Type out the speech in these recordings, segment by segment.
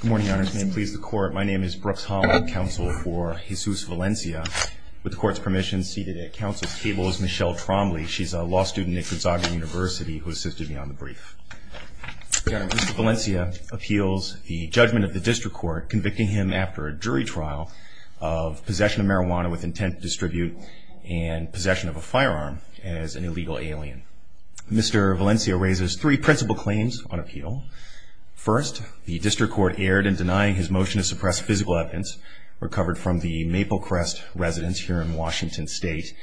Good morning, Your Honors. May it please the Court, my name is Brooks Holland, counsel for Jesus Valencia. With the Court's permission, seated at counsel's table is Michelle Trombley. She's a law student at Gonzaga University who assisted me on the brief. Your Honor, Mr. Valencia appeals the judgment of the District Court convicting him after a jury trial of possession of marijuana with intent to distribute and possession of a firearm as an illegal alien. Mr. Valencia raises three principal claims on appeal. First, the District Court erred in denying his motion to suppress physical evidence recovered from the Maple Crest residence here in Washington State.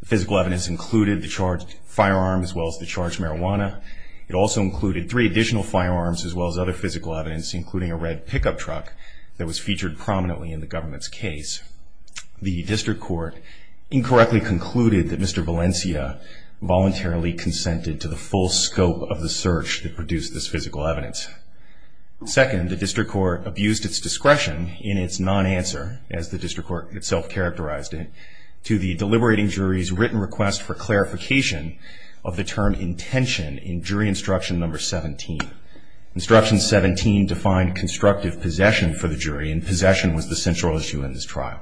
The physical evidence included the charged firearm as well as the charged marijuana. It also included three additional firearms as well as other physical evidence including a red pickup truck that was featured prominently in the government's case. The District Court incorrectly concluded that Mr. Valencia voluntarily consented to the full scope of the search that produced this physical evidence. Second, the District Court abused its discretion in its non-answer, as the District Court itself characterized it, to the deliberating jury's written request for clarification of the term intention in jury instruction number 17. Instruction 17 defined constructive possession for the jury, and possession was the central issue in this trial.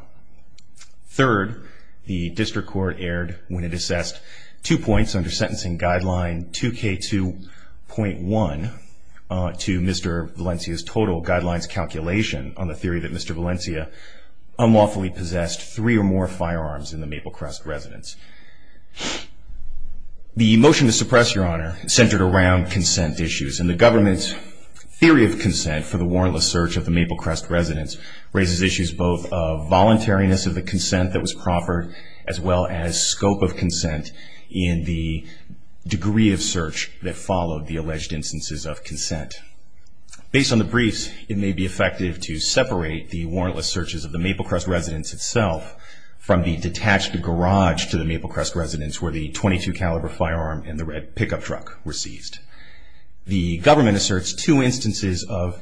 Third, the District Court erred when it assessed two points under sentencing guideline 2K2.1 to Mr. Valencia's total guidelines calculation on the theory that Mr. Valencia unlawfully possessed three or more firearms in the Maple Crest residence. The motion to suppress, Your Honor, centered around consent issues, and the government's theory of consent for the warrantless search of the Maple Crest residence raises issues both of voluntariness of the consent that was proffered as well as scope of consent in the degree of search that followed the alleged instances of consent. Based on the briefs, it may be effective to separate the two instances of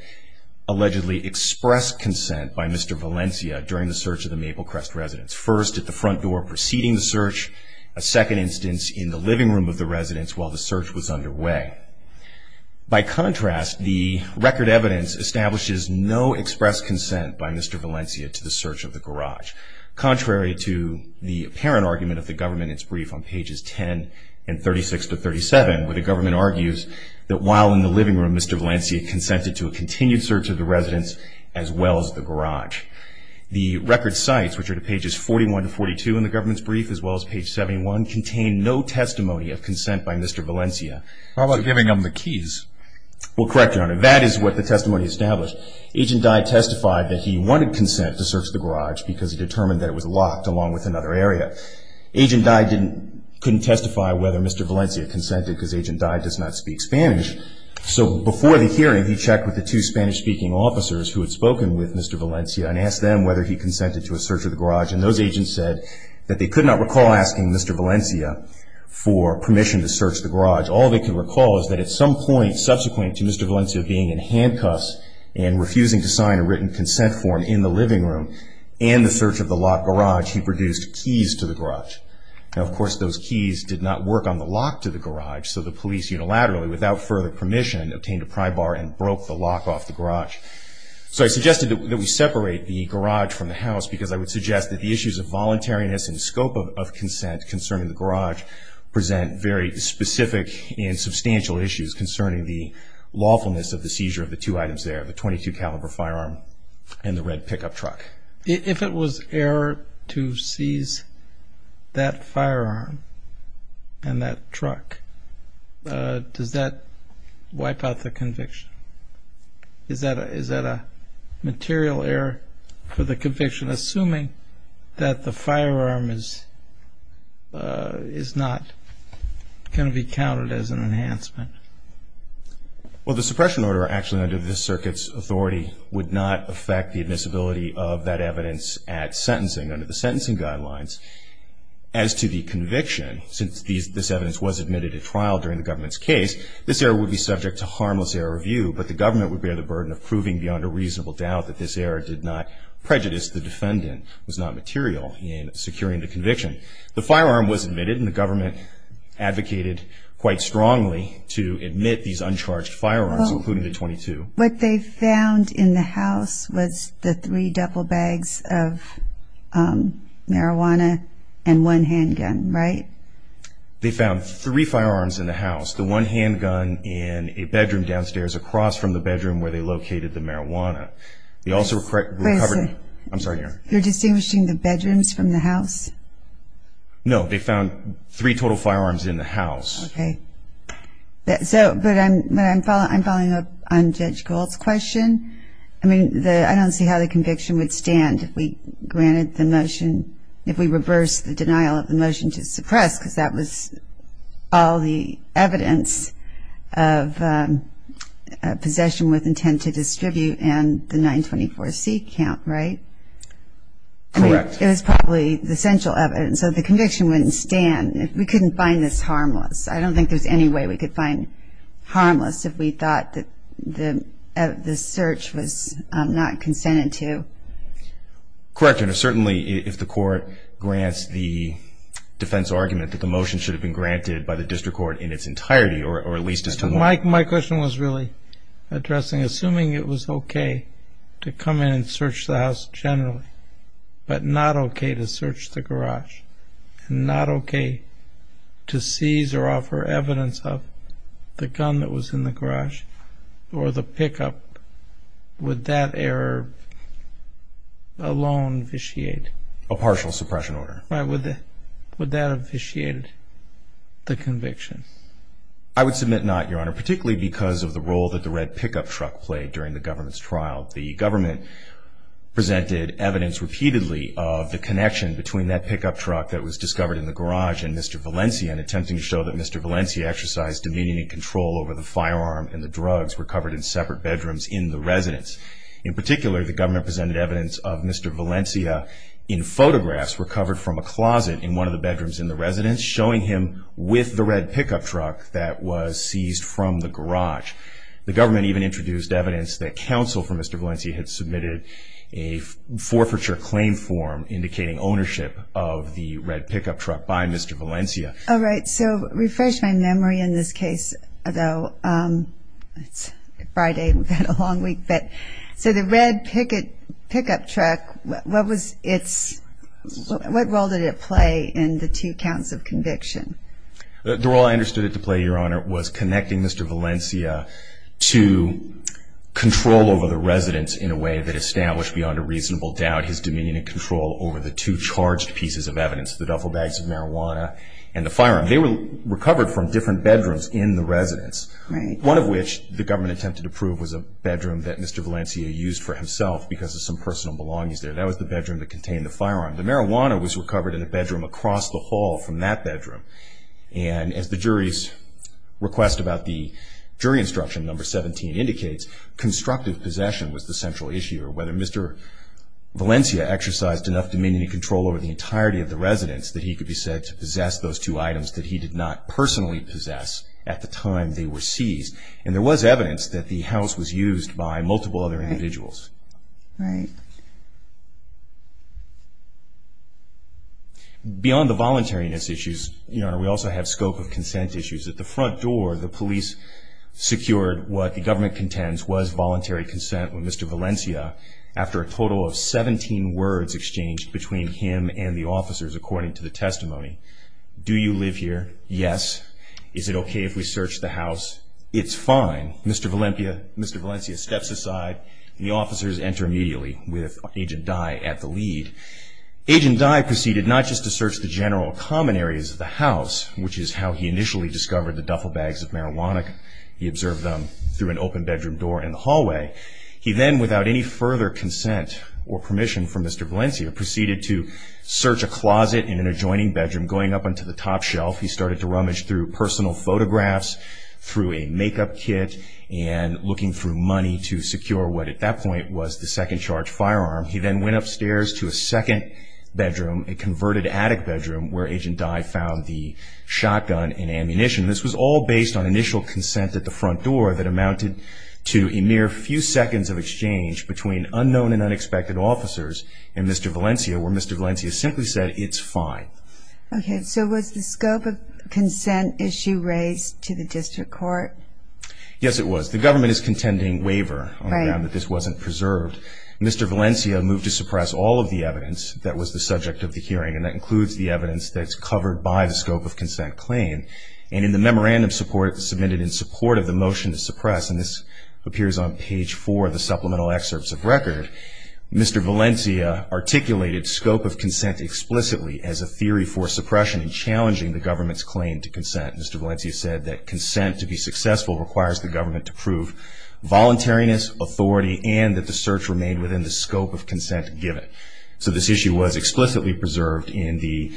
allegedly expressed consent by Mr. Valencia during the search of the Maple Crest residence, first at the front door preceding the search, a second instance in the living room of the residence while the search was underway. By contrast, the record evidence establishes no expressed consent by Mr. Valencia to the search of the garage, contrary to the apparent argument of the government in its brief on pages 10 and 36-37, where the government argues that while in the living room, Mr. Valencia consented to a continued search of the residence as well as the garage. The record cites, which are to pages 41-42 in the government's brief as well as page 71, contain no testimony of consent by Mr. Valencia. How about giving him the keys? Well, correct, Your Honor. That is what the testimony established. Agent Dye testified that he wanted consent to search the garage because he determined that it was locked along with another area. Agent Dye couldn't testify whether Mr. Valencia consented because Agent Dye does not speak Spanish. So before the hearing, he checked with the two Spanish-speaking officers who had spoken with Mr. Valencia and asked them whether he consented to a search of the garage. And those agents said that they could not recall asking Mr. Valencia for permission to search the garage. All they could recall is that at some point subsequent to Mr. Valencia being in handcuffs and refusing to sign a written consent form in the living room and the search of the locked garage, he produced keys to the garage. Now, of course, those keys did not work on the lock to the garage, so the police unilaterally, without further permission, obtained a pry bar and broke the lock off the garage. So I suggested that we separate the garage from the house because I would suggest that the issues of and substantial issues concerning the lawfulness of the seizure of the two items there, the .22 caliber firearm and the red pickup truck. If it was error to seize that firearm and that truck, does that wipe out the conviction? Is that a material error for the conviction assuming that the firearm is not can be counted as an enhancement? Well, the suppression order actually under this circuit's authority would not affect the admissibility of that evidence at sentencing under the sentencing guidelines. As to the conviction, since this evidence was admitted at trial during the government's case, this error would be subject to harmless error review, but the government would bear the burden of proving beyond a reasonable doubt that this error did not prejudice the conviction. What they found in the house was the three duffel bags of marijuana and one handgun, right? They found three firearms in the house, the one handgun in a bedroom downstairs across from the bedroom where they located the marijuana. You're distinguishing the bedrooms from the house? No, they found three total firearms in the house. I'm following up on Judge Gold's question. I don't see how the conviction would stand if we granted the motion, if we reversed the denial of the motion to suppress because that was all the evidence of possession with intent to distribute and the 924C count, right? Correct. It was probably the central evidence, so the conviction wouldn't stand if we couldn't find this harmless. I don't think there's any way we could find harmless if we thought that the search was not consented to. Correct, and certainly if the court grants the defense argument that the motion should have been granted by the district court in its entirety or at least as My question was really addressing, assuming it was okay to come in and search the house generally, but not okay to search the garage and not okay to seize or offer evidence of the gun that was in the garage or the pickup, would that error alone officiate a partial suppression order? Would that officiate the conviction? I would submit not, Your Honor, particularly because of the role that the red pickup truck played during the government's trial. The government presented evidence repeatedly of the connection between that pickup truck that was seized from the garage. In particular, the government presented evidence of Mr. Valencia in photographs recovered from a closet in one of the bedrooms in the residence, showing him with the red pickup truck that was seized from the garage. The government even introduced evidence that counsel for Mr. Valencia had submitted a forfeiture claim form indicating ownership of the red pickup truck by Mr. Valencia. Refresh my memory in this case, though. It's Friday. We've had a long week. The red pickup truck, what role did it play in the two counts of conviction? The role I understood it to play, Your Honor, was connecting Mr. Valencia to control over the residence in a way that established beyond a reasonable doubt his dominion and control over the two charged pieces of evidence, the duffel bags of marijuana and the firearm. They were recovered from different bedrooms in the residence, one of which the government attempted to prove was a bedroom that Mr. Valencia used for himself because of some personal belongings there. That was the bedroom that contained the firearm. The marijuana was recovered in a bedroom across the hall from that bedroom. As the jury's request about the jury instruction number 17 indicates, constructive possession was the central issue, or whether Mr. Valencia exercised enough dominion and control over the entirety of the residence that he could be said to possess those two items that he did not personally possess at the time they were seized. There was evidence that the house was used by multiple other individuals. Right. Beyond the voluntariness issues, Your Honor, we also have scope of consent issues. At the front door, the police secured what the government contends was voluntary consent with Mr. Valencia after a total of 17 words exchanged between him and the officers according to the testimony. Do you live here? Yes. Is it okay if we search the house? It's fine. Mr. Valencia steps aside and the officers enter immediately with Agent Dye at the lead. Agent Dye proceeded not just to search the general common areas of the house, which is how he initially discovered the duffel bags of marijuana. He observed them through an open bedroom door in the hallway. He then, without any further consent or permission from Mr. Valencia, proceeded to search a closet in an adjoining He then went upstairs to a second bedroom, a converted attic bedroom, where Agent Dye found the shotgun and ammunition. This was all based on initial consent at the front door that amounted to a mere few seconds of exchange between unknown and unexpected officers and Mr. Valencia, where Mr. Valencia simply said, it's fine. Okay, so was the scope of consent issue raised to the district court? Yes, it was. The government is contending waiver on the ground that this wasn't preserved. Mr. Valencia moved to suppress all of the evidence that was the subject of the hearing, and that includes the evidence that's covered by the scope of consent claim. And in the memorandum submitted in support of the motion to suppress, and this appears on page 4 of the supplemental excerpts of record, Mr. Valencia articulated scope of consent explicitly as a theory for suppression and challenging the government's claim to consent. Mr. Valencia said that consent to be successful requires the government to prove voluntariness, authority, and that the search remained within the scope of consent given. So this issue was explicitly preserved in the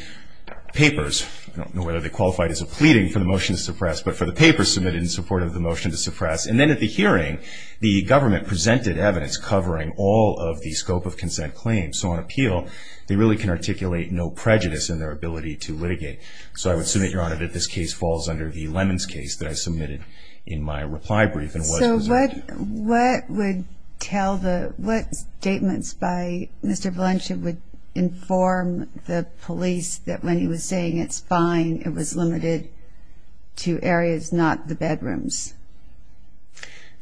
papers. I don't know whether they qualified as a pleading for the motion to suppress, but for the papers submitted in support of the motion to suppress. And then at the hearing, the government presented evidence covering all of the scope of consent claims. So on appeal, they really can articulate no prejudice in their ability to litigate. So I would submit, Your Honor, that this case falls under the Lemons case that I submitted in my reply brief and was preserved. So what would tell the, what statements by Mr. Valencia would inform the police that when he was saying it's fine, it was limited to areas, not the bedrooms?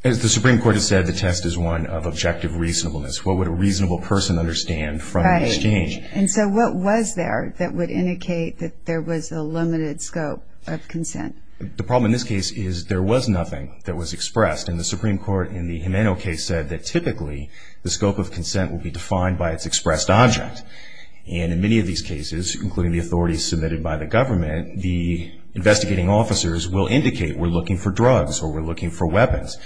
As the Supreme Court has said, the test is one of objective reasonableness. What would a reasonable person understand from an exchange? Right. And so what was there that would indicate that there was a limited scope of consent? The problem in this case is there was nothing that was expressed, and the Supreme Court in the Jimeno case said that typically the scope of consent would be defined by its expressed object. And in many of these cases, including the authorities submitted by the government, the investigating officers will indicate we're looking for drugs or we're looking for weapons.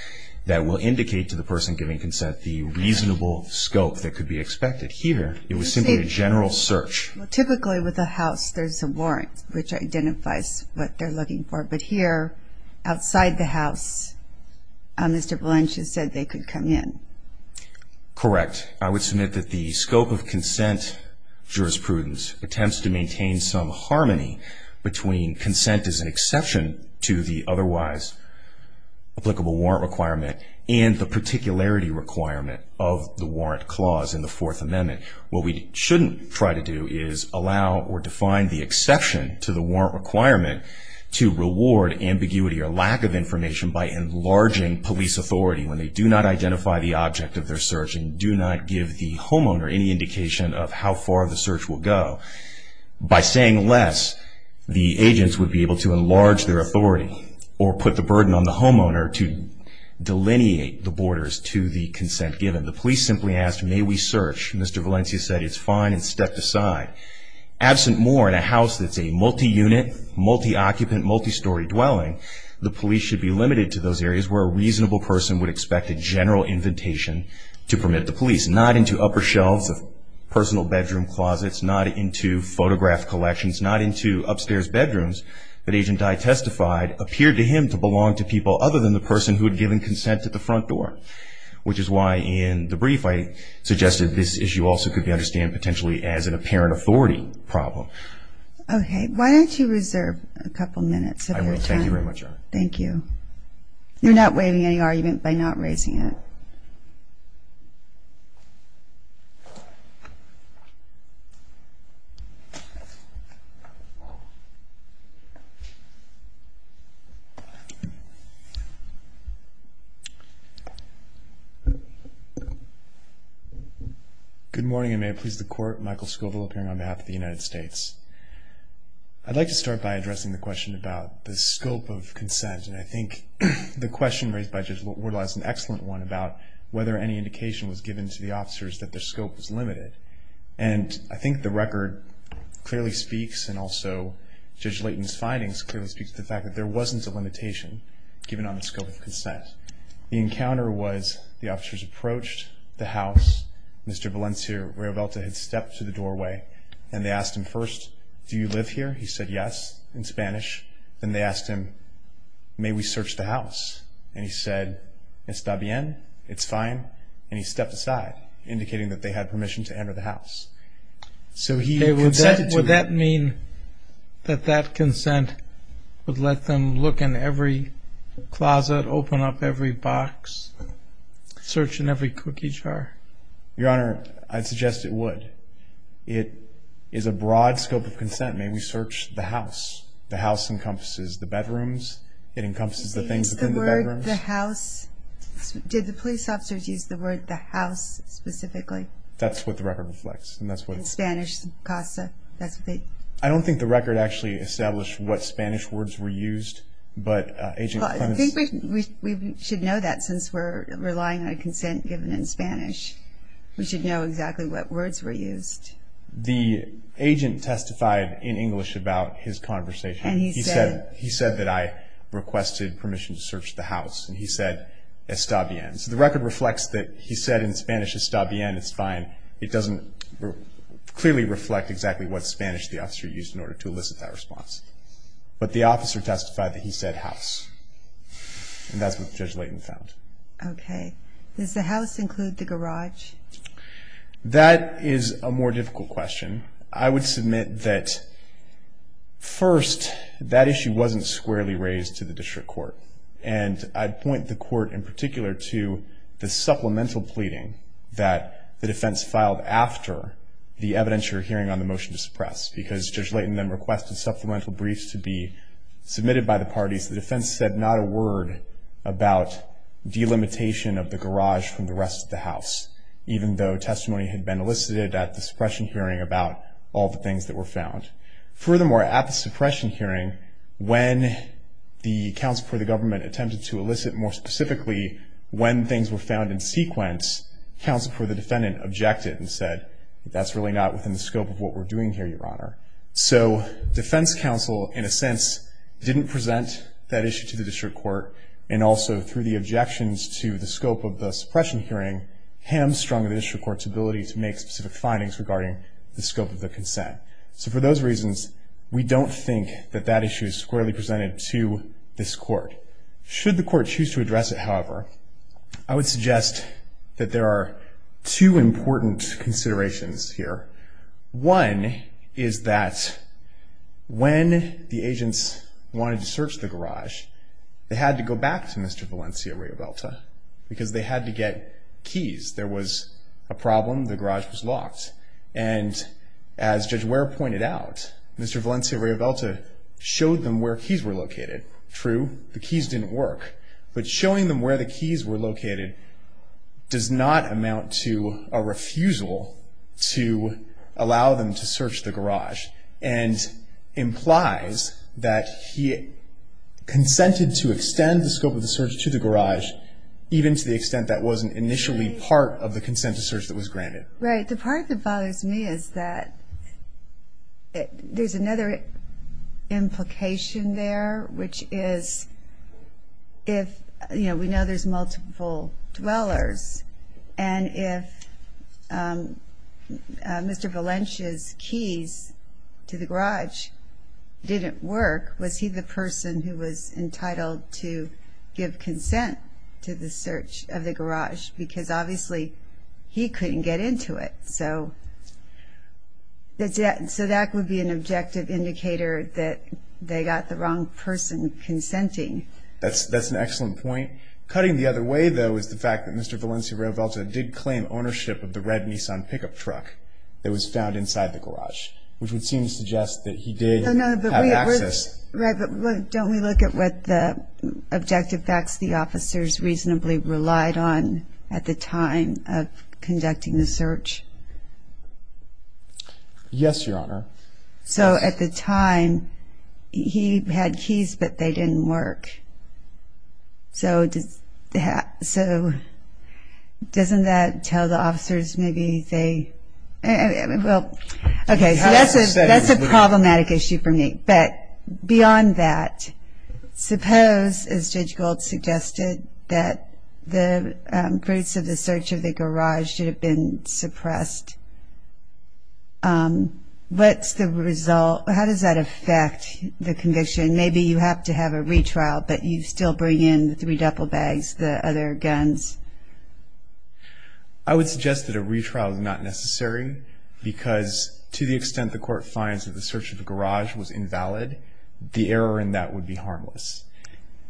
That will indicate to the person giving consent the reasonable scope that could be expected. Here, it was simply a general search. Well, typically with a house, there's a warrant which identifies what they're looking for. But here, outside the house, Mr. Valencia said they could come in. Correct. I would submit that the scope of consent jurisprudence attempts to maintain some harmony between consent as an exception to the otherwise applicable warrant requirement and the particularity requirement of the warrant clause in the Fourth Amendment. What we shouldn't try to do is allow or define the exception to the warrant requirement to reward ambiguity or lack of information by enlarging police authority when they do not identify the object of their search and do not give the homeowner any indication of how far the search will go. By saying less, the agents would be able to enlarge their authority or put the burden on the homeowner to delineate the borders to the consent given. The police simply asked, may we search? Mr. Valencia said it's fine and stepped aside. Absent more in a house that's a multi-unit, multi-occupant, multi-story dwelling, the police should be limited to those areas where a reasonable person would expect a general invitation to permit the police. Not into upper shelves of personal bedroom closets. Not into photograph collections. Not into upstairs bedrooms. But Agent Dye testified, appeared to him to belong to people other than the person who had given consent to the front door. Which is why in the brief I suggested this issue also could be understood potentially as an apparent authority problem. Okay, why don't you reserve a couple minutes. I will, thank you very much. Thank you. You're not waiving any argument by not raising it. Good morning and may it please the Court. Michael Scoville appearing on behalf of the United States. I'd like to start by addressing the question about the scope of consent. And I think the question raised by Judge Wardlaw is an excellent one about whether any indication was given to the officers that their scope was limited. And I think the record clearly speaks and also Judge Layton's findings clearly speak to the fact that there wasn't a limitation given on the scope of consent. The encounter was the officers approached the house. Mr. Valencia Rivelta had stepped to the doorway. And they asked him first, do you live here? He said yes in Spanish. Then they asked him, may we search the house? And he said, esta bien, it's fine. And he stepped aside indicating that they had permission to enter the house. So he consented to it. Would that mean that that consent would let them look in every closet, open up every box, search in every cookie jar? Your Honor, I'd suggest it would. It is a broad scope of consent. May we search the house? The house encompasses the bedrooms. It encompasses the things within the bedrooms. Did the police officers use the word the house specifically? That's what the record reflects. I don't think the record actually established what Spanish words were used. We should know that since we're relying on consent given in Spanish. We should know exactly what words were used. The agent testified in English about his conversation. He said that I requested permission to search the house. And he said, esta bien. So the record reflects that he said in Spanish, esta bien, it's fine. It doesn't clearly reflect exactly what Spanish the officer used in order to elicit that response. But the officer testified that he said house. And that's what Judge Layton found. Okay. Does the house include the garage? That is a more difficult question. I would submit that first, that issue wasn't squarely raised to the district court. And I'd point the court in particular to the supplemental pleading that the defense filed after the evidence you're hearing on the motion to suppress. Because Judge Layton then requested supplemental briefs to be submitted by the parties. The defense said not a word about delimitation of the garage from the rest of the house, even though testimony had been elicited at the suppression hearing about all the things that were found. Furthermore, at the suppression hearing, when the counsel for the government attempted to elicit more specifically when things were found in sequence, counsel for the defendant objected and said that's really not within the scope of what we're doing here, Your Honor. So defense counsel, in a sense, didn't present that issue to the district court. And also through the objections to the scope of the suppression hearing, hamstrung the district court's ability to make specific findings regarding the scope of the consent. So for those reasons, we don't think that that issue is squarely presented to this court. Should the court choose to address it, however, I would suggest that there are two important considerations here. One is that when the agents wanted to search the garage, they had to go back to Mr. Valencia-Riavelta because they had to get keys. And as Judge Ware pointed out, Mr. Valencia-Riavelta showed them where keys were located. True, the keys didn't work, but showing them where the keys were located does not amount to a refusal to allow them to search the garage and implies that he consented to extend the scope of the search to the garage, even to the extent that wasn't initially part of the consent to search that was granted. Right. The part that bothers me is that there's another implication there, which is if, you know, we know there's multiple dwellers and if Mr. Valencia's keys to the garage didn't work, was he the person who was entitled to give consent to the search of the garage? Because obviously he couldn't get into it. So that would be an objective indicator that they got the wrong person consenting. That's an excellent point. Cutting the other way, though, is the fact that Mr. Valencia-Riavelta did claim ownership of the red Nissan pickup truck that was found inside the garage, which would seem to suggest that he did have access. Right, but don't we look at what the objective facts the officers reasonably relied on at the time of conducting the search? Yes, Your Honor. So at the time, he had keys, but they didn't work. So doesn't that tell the officers maybe they... Well, okay, so that's a problematic issue for me. But beyond that, suppose, as Judge Gold suggested, that the fruits of the search of the garage should have been suppressed. What's the result? How does that affect the conviction? Maybe you have to have a retrial, but you still bring in the three duffel bags, the other guns. I would suggest that a retrial is not necessary because to the extent the court finds that the search of the garage was invalid, the error in that would be harmless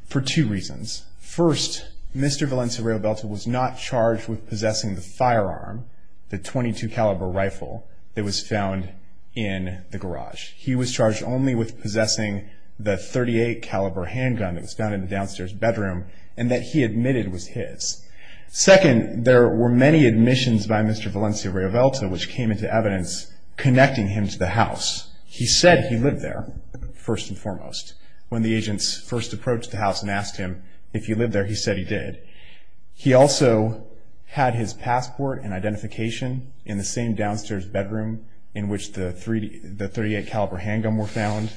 for two reasons. First, Mr. Valencia-Riavelta was not charged with possessing the firearm, the .22 caliber rifle, that was found in the garage. He was charged only with possessing the .38 caliber handgun that was found in the downstairs bedroom and that he admitted was his. Second, there were many admissions by Mr. Valencia-Riavelta which came into evidence connecting him to the house. When the agents first approached the house and asked him if he lived there, he said he did. He also had his passport and identification in the same downstairs bedroom in which the .38 caliber handgun were found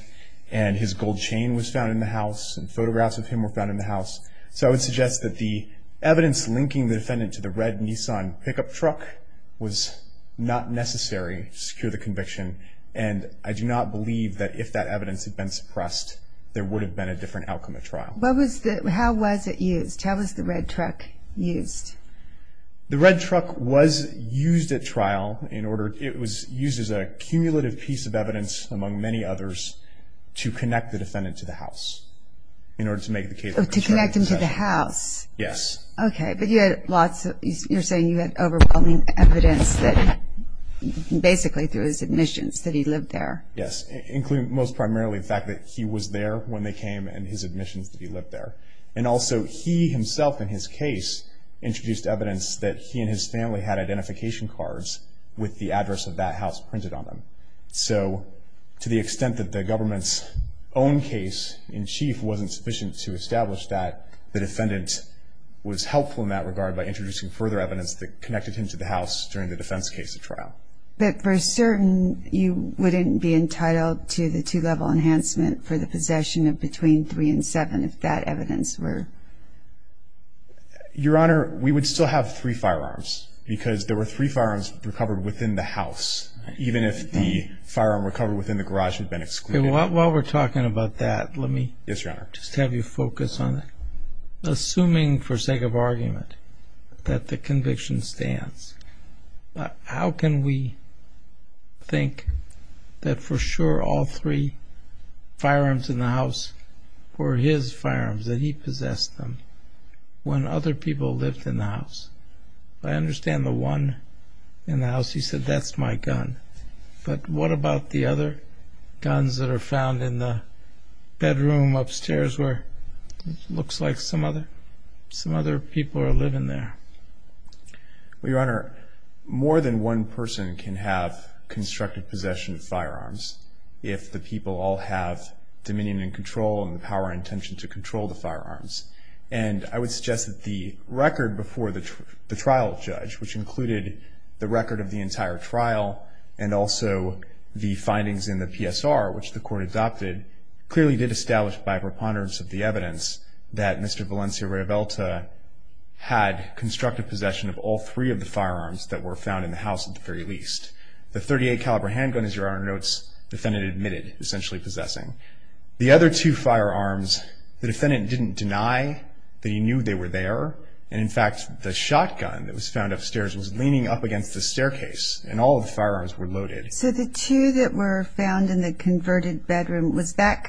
and his gold chain was found in the house and photographs of him were found in the house. So I would suggest that the evidence linking the defendant to the red Nissan pickup truck was not necessary to secure the conviction and I do not believe that if that evidence had been suppressed, there would have been a different outcome at trial. How was it used? How was the red truck used? The red truck was used at trial. It was used as a cumulative piece of evidence among many others to connect the defendant to the house. To connect him to the house? Yes. Okay, but you're saying you had overwhelming evidence that basically through his admissions that he lived there. Yes, most primarily the fact that he was there when they came and his admissions that he lived there. And also he himself in his case introduced evidence that he and his family had identification cards with the address of that house printed on them. So to the extent that the government's own case in chief wasn't sufficient to establish that, the defendant was helpful in that regard by introducing further evidence that connected him to the house during the defense case at trial. But for certain you wouldn't be entitled to the two-level enhancement for the possession of between three and seven if that evidence were? Your Honor, we would still have three firearms because there were three firearms recovered within the house, even if the firearm recovered within the garage had been excluded. While we're talking about that, let me just have you focus on it. Assuming for sake of argument that the conviction stands, how can we think that for sure all three firearms in the house were his firearms that he possessed? When other people lived in the house. I understand the one in the house, he said, that's my gun. But what about the other guns that are found in the bedroom upstairs where it looks like some other people are living there? Well, Your Honor, more than one person can have constructive possession of firearms if the people all have dominion and control and the power and intention to control the firearms. And I would suggest that the record before the trial judge, which included the record of the entire trial and also the findings in the PSR, which the court adopted, clearly did establish by preponderance of the evidence that Mr. Valencia-Raybelta had constructive possession of all three of the firearms that were found in the house at the very least. The .38 caliber handgun, as Your Honor notes, the defendant admitted essentially possessing. The other two firearms, the defendant didn't deny that he knew they were there. And in fact, the shotgun that was found upstairs was leaning up against the staircase and all the firearms were loaded. So the two that were found in the converted bedroom, that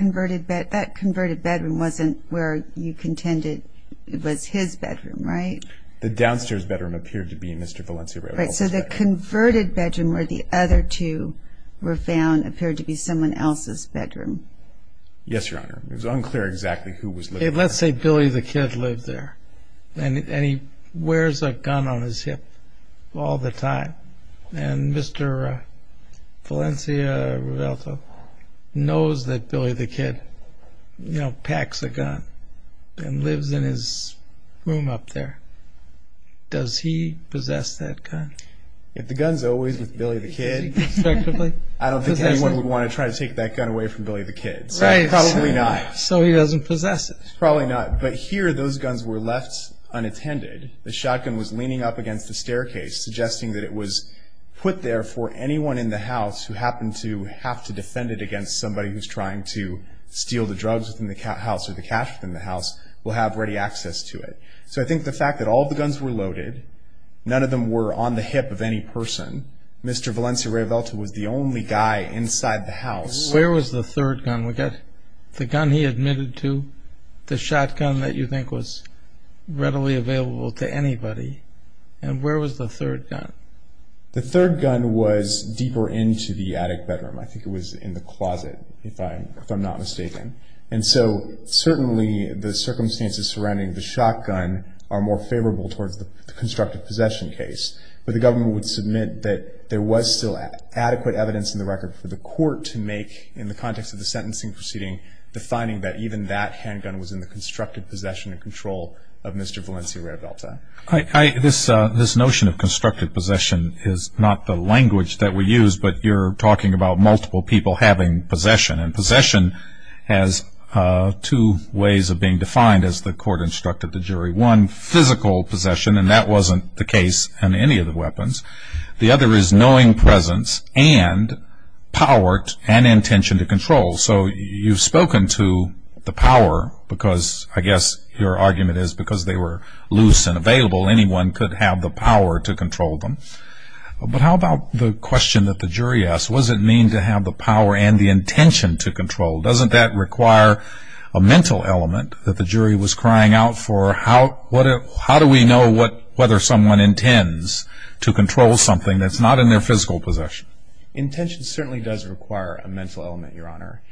converted bedroom wasn't where you contended it was his bedroom, right? The downstairs bedroom appeared to be Mr. Valencia-Raybelta's bedroom. Right. So the converted bedroom where the other two were found appeared to be someone else's bedroom. Yes, Your Honor. It was unclear exactly who was living there. Let's say Billy the Kid lived there and he wears a gun on his hip all the time. And Mr. Valencia-Raybelta knows that Billy the Kid packs a gun and lives in his room up there. Does he possess that gun? If the gun's always with Billy the Kid, I don't think anyone would want to try to take that gun away from Billy the Kid. Right. So he doesn't possess it. Probably not. But here those guns were left unattended. The shotgun was leaning up against the staircase, suggesting that it was put there for anyone in the house who happened to have to defend it against somebody who's trying to steal the drugs from the house or the cash from the house will have ready access to it. So I think the fact that all the guns were loaded, none of them were on the hip of any person, Mr. Valencia-Raybelta was the only guy inside the house. Where was the third gun? We got the gun he admitted to, the shotgun that you think was readily available to anybody. And where was the third gun? The third gun was deeper into the attic bedroom. I think it was in the closet, if I'm not mistaken. And so certainly the circumstances surrounding the shotgun are more favorable towards the constructive possession case. But the government would submit that there was still adequate evidence in the record for the court to make in the context of the sentencing proceeding the finding that even that handgun was in the constructive possession and control of Mr. Valencia-Raybelta. This notion of constructive possession is not the language that we use, but you're talking about multiple people having possession. And possession has two ways of being defined, as the court instructed the jury. One, physical possession, and that wasn't the case in any of the weapons. The other is knowing presence and power and intention to control. So you've spoken to the power, because I guess your argument is because they were loose and available, anyone could have the power to control them. But how about the question that the jury asked, what does it mean to have the power and the intention to control? Doesn't that require a mental element that the jury was crying out for? How do we know whether someone intends to control something that's not in their physical possession? Intention certainly does require a mental element, Your Honor.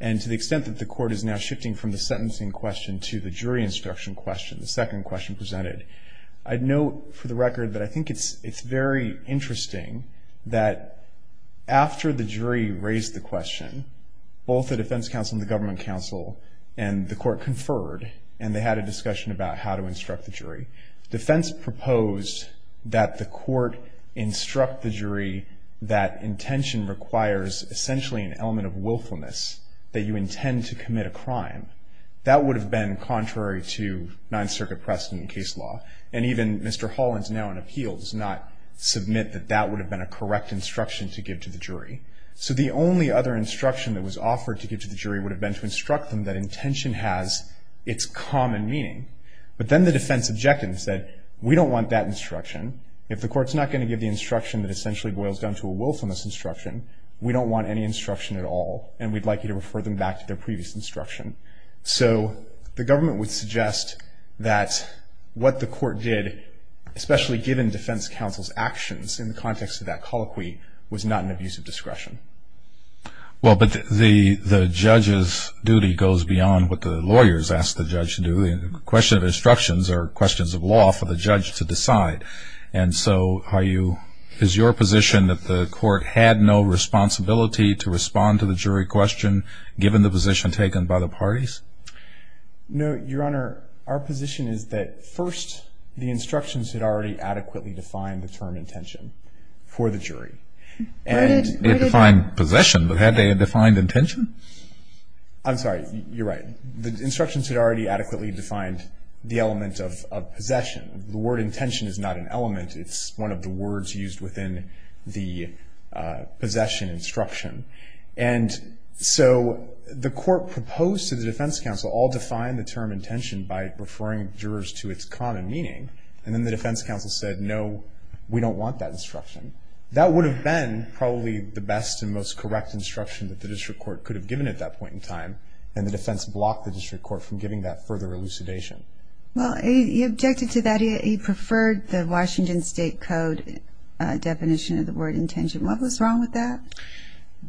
And to the extent that the court is now shifting from the sentencing question to the jury instruction question, the second question presented, I'd note for the record that I think it's very interesting that after the jury raised the question, both the defense counsel and the government counsel and the court conferred, and they had a discussion about how to instruct the jury. The defense proposed that the court instruct the jury that intention requires essentially an element of willfulness, that you intend to commit a crime. That would have been contrary to Ninth Circuit precedent in case law. And even Mr. Holland's now in appeals, not submit that that would have been a correct instruction to give to the jury. So the only other instruction that was offered to give to the jury would have been to instruct them that intention has its common meaning. But then the defense objected and said, we don't want that instruction. If the court's not going to give the instruction that essentially boils down to a willfulness instruction, we don't want any instruction at all, and we'd like you to refer them back to their previous instruction. So the government would suggest that what the court did, especially given defense counsel's actions in the context of that colloquy, was not an abuse of discretion. Well, but the judge's duty goes beyond what the lawyers ask the judge to do. The question of instructions are questions of law for the judge to decide. And so is your position that the court had no responsibility to respond to the jury question, given the position taken by the parties? No, Your Honor. Our position is that first the instructions had already adequately defined the term intention for the jury. They defined possession, but had they defined intention? I'm sorry, you're right. The instructions had already adequately defined the element of possession. The word intention is not an element. It's one of the words used within the possession instruction. And so the court proposed to the defense counsel, I'll define the term intention by referring jurors to its common meaning, and then the defense counsel said, no, we don't want that instruction. That would have been probably the best and most correct instruction that the district court could have given at that point in time, and the defense blocked the district court from giving that further elucidation. Well, he objected to that. He preferred the Washington State Code definition of the word intention. What was wrong with that?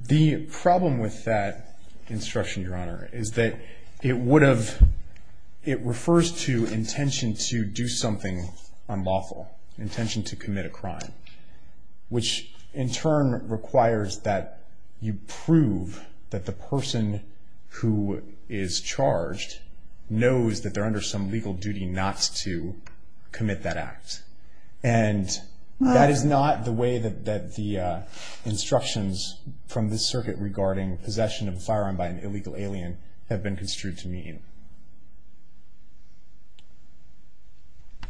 The problem with that instruction, Your Honor, is that it would have, it refers to intention to do something unlawful, intention to commit a crime, which in turn requires that you prove that the person who is charged knows that they're under some legal duty not to commit that act. And that is not the way that the instructions from this circuit regarding possession of a firearm by an illegal alien have been construed to mean.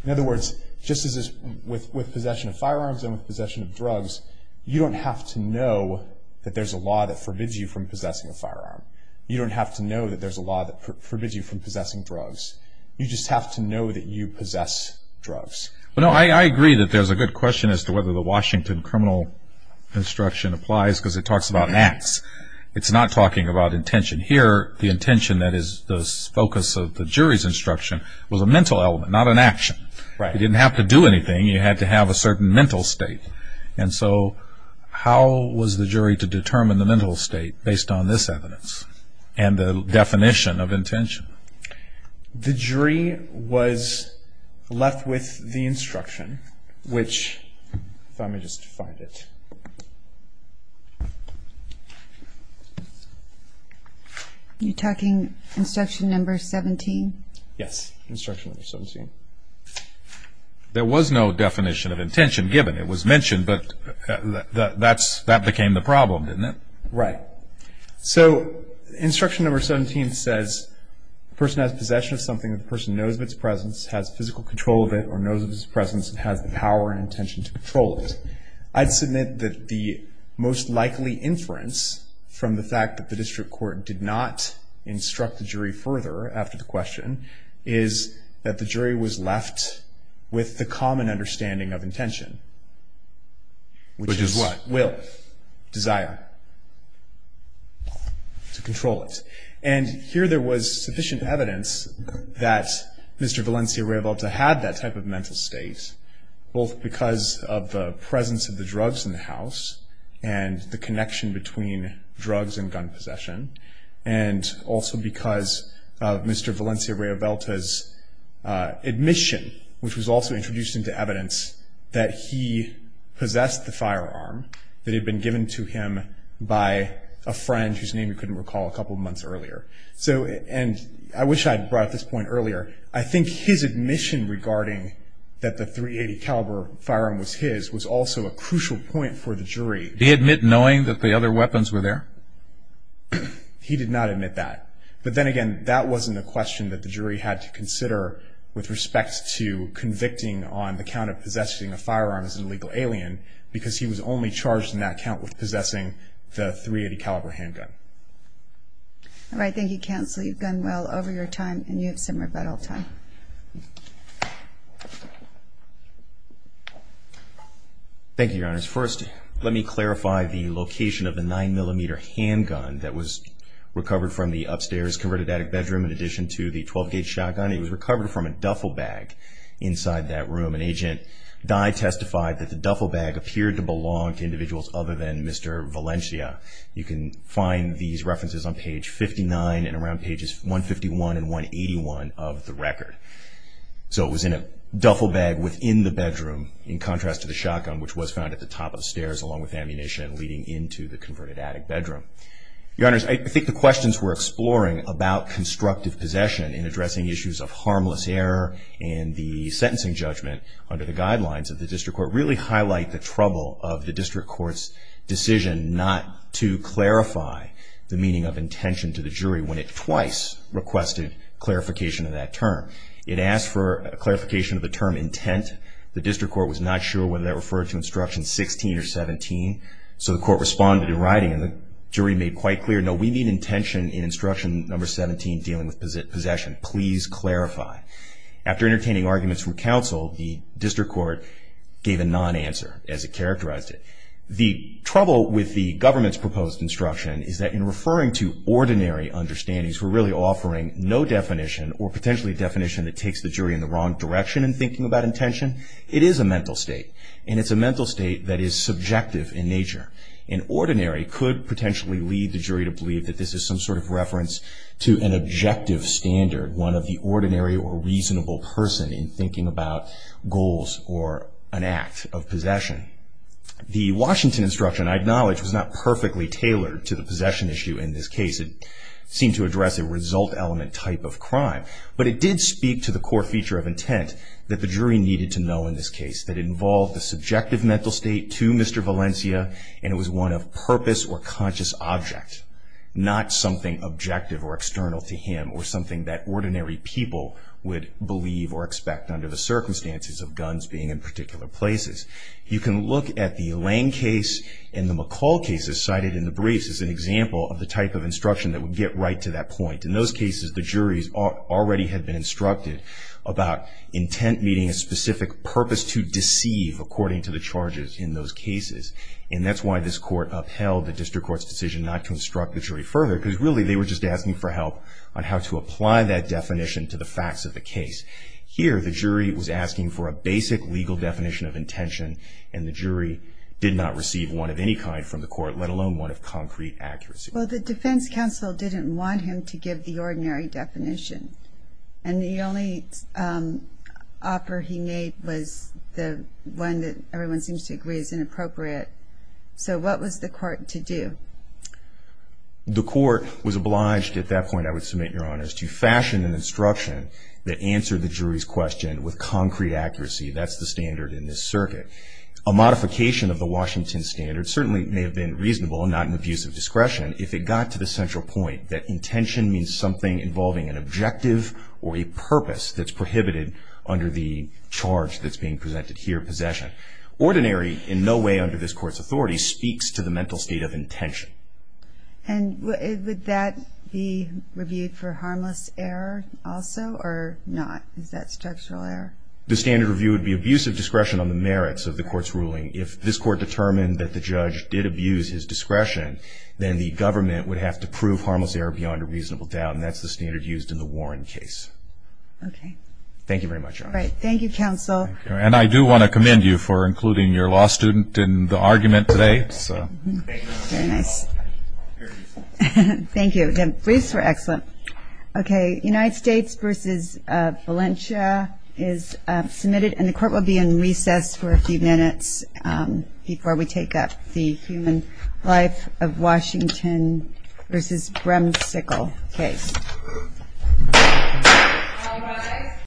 In other words, just as with possession of firearms and with possession of drugs, you don't have to know that there's a law that forbids you from possessing a firearm. You don't have to know that there's a law that forbids you from possessing drugs. You just have to know that you possess drugs. Well, no, I agree that there's a good question as to whether the Washington criminal instruction applies, because it talks about acts. It's not talking about intention here. The intention that is the focus of the jury's instruction was a mental element, not an action. Right. You didn't have to do anything. You had to have a certain mental state. And so how was the jury to determine the mental state based on this evidence and the definition of intention? The jury was left with the instruction, which if I may just find it. You're talking instruction number 17? Yes, instruction number 17. There was no definition of intention given. It was mentioned, but that became the problem, didn't it? Right. So instruction number 17 says the person has possession of something. The person knows of its presence, has physical control of it, or knows of its presence, and has the power and intention to control it. I'd submit that the most likely inference from the fact that the district court did not instruct the jury further after the question is that the jury was left with the common understanding of intention. Which is what? Will. Desire. To control it. And here there was sufficient evidence that Mr. Valencia-Riovalta had that type of mental state, both because of the presence of the drugs in the house and the connection between drugs and gun possession, and also because of Mr. Valencia-Riovalta's admission, which was also introduced into evidence, that he possessed the firearm that had been given to him by a friend whose name he couldn't recall a couple months earlier. And I wish I had brought up this point earlier. I think his admission regarding that the .380 caliber firearm was his was also a crucial point for the jury. Did he admit knowing that the other weapons were there? He did not admit that. But then again, that wasn't a question that the jury had to consider with respect to convicting on the count of possessing a firearm as an illegal alien, because he was only charged in that count with possessing the .380 caliber handgun. All right. Thank you, Counsel. You've gone well over your time, and you have similar battle time. Thank you, Your Honors. First, let me clarify the location of the 9mm handgun that was recovered from the upstairs converted attic bedroom in addition to the 12-gauge shotgun. It was recovered from a duffel bag inside that room, and Agent Dye testified that the duffel bag appeared to belong to individuals other than Mr. Valencia. You can find these references on page 59 and around pages 151 and 181 of the record. So it was in a duffel bag within the bedroom in contrast to the shotgun, which was found at the top of the stairs along with ammunition leading into the converted attic bedroom. Your Honors, I think the questions we're exploring about constructive possession in addressing issues of harmless error in the sentencing judgment under the guidelines of the district court really highlight the trouble of the district court's decision not to clarify the meaning of intention to the jury when it twice requested clarification of that term. It asked for clarification of the term intent. The district court was not sure whether that referred to instruction 16 or 17, so the court responded in writing, and the jury made quite clear, no, we need intention in instruction number 17 dealing with possession. Please clarify. After entertaining arguments from counsel, the district court gave a non-answer as it characterized it. The trouble with the government's proposed instruction is that in referring to ordinary understandings, we're really offering no definition or potentially a definition that takes the jury in the wrong direction in thinking about intention. It is a mental state, and it's a mental state that is subjective in nature. An ordinary could potentially lead the jury to believe that this is some sort of reference to an objective standard, one of the ordinary or reasonable person in thinking about goals or an act of possession. The Washington instruction, I acknowledge, was not perfectly tailored to the possession issue in this case. It seemed to address a result element type of crime, but it did speak to the core feature of intent that the jury needed to know in this case, that it involved the subjective mental state to Mr. Valencia, and it was one of purpose or conscious object, not something objective or external to him or something that ordinary people would believe or expect under the circumstances of guns being in particular places. You can look at the Lane case and the McCall cases cited in the briefs as an example of the type of instruction that would get right to that point. In those cases, the juries already had been instructed about intent, meaning a specific purpose to deceive according to the charges in those cases, and that's why this court upheld the district court's decision not to instruct the jury further, because really they were just asking for help on how to apply that definition to the facts of the case. Here, the jury was asking for a basic legal definition of intention, and the jury did not receive one of any kind from the court, let alone one of concrete accuracy. Well, the defense counsel didn't want him to give the ordinary definition, and the only offer he made was the one that everyone seems to agree is inappropriate. So what was the court to do? The court was obliged at that point, I would submit, Your Honor, to fashion an instruction that answered the jury's question with concrete accuracy. That's the standard in this circuit. A modification of the Washington standard certainly may have been reasonable and not an abuse of discretion if it got to the central point that intention means something involving an objective or a purpose that's prohibited under the charge that's being presented here, possession. Ordinary, in no way under this court's authority, speaks to the mental state of intention. And would that be reviewed for harmless error also, or not? Is that structural error? The standard review would be abuse of discretion on the merits of the court's ruling. If this court determined that the judge did abuse his discretion, then the government would have to prove harmless error beyond a reasonable doubt, and that's the standard used in the Warren case. Okay. Thank you very much, Your Honor. Thank you, counsel. And I do want to commend you for including your law student in the argument today. Very nice. Thank you. Briefs were excellent. Okay. United States v. Valencia is submitted, and the court will be in recess for a few minutes before we take up the human life of Washington v. Bremsicle case. All rise.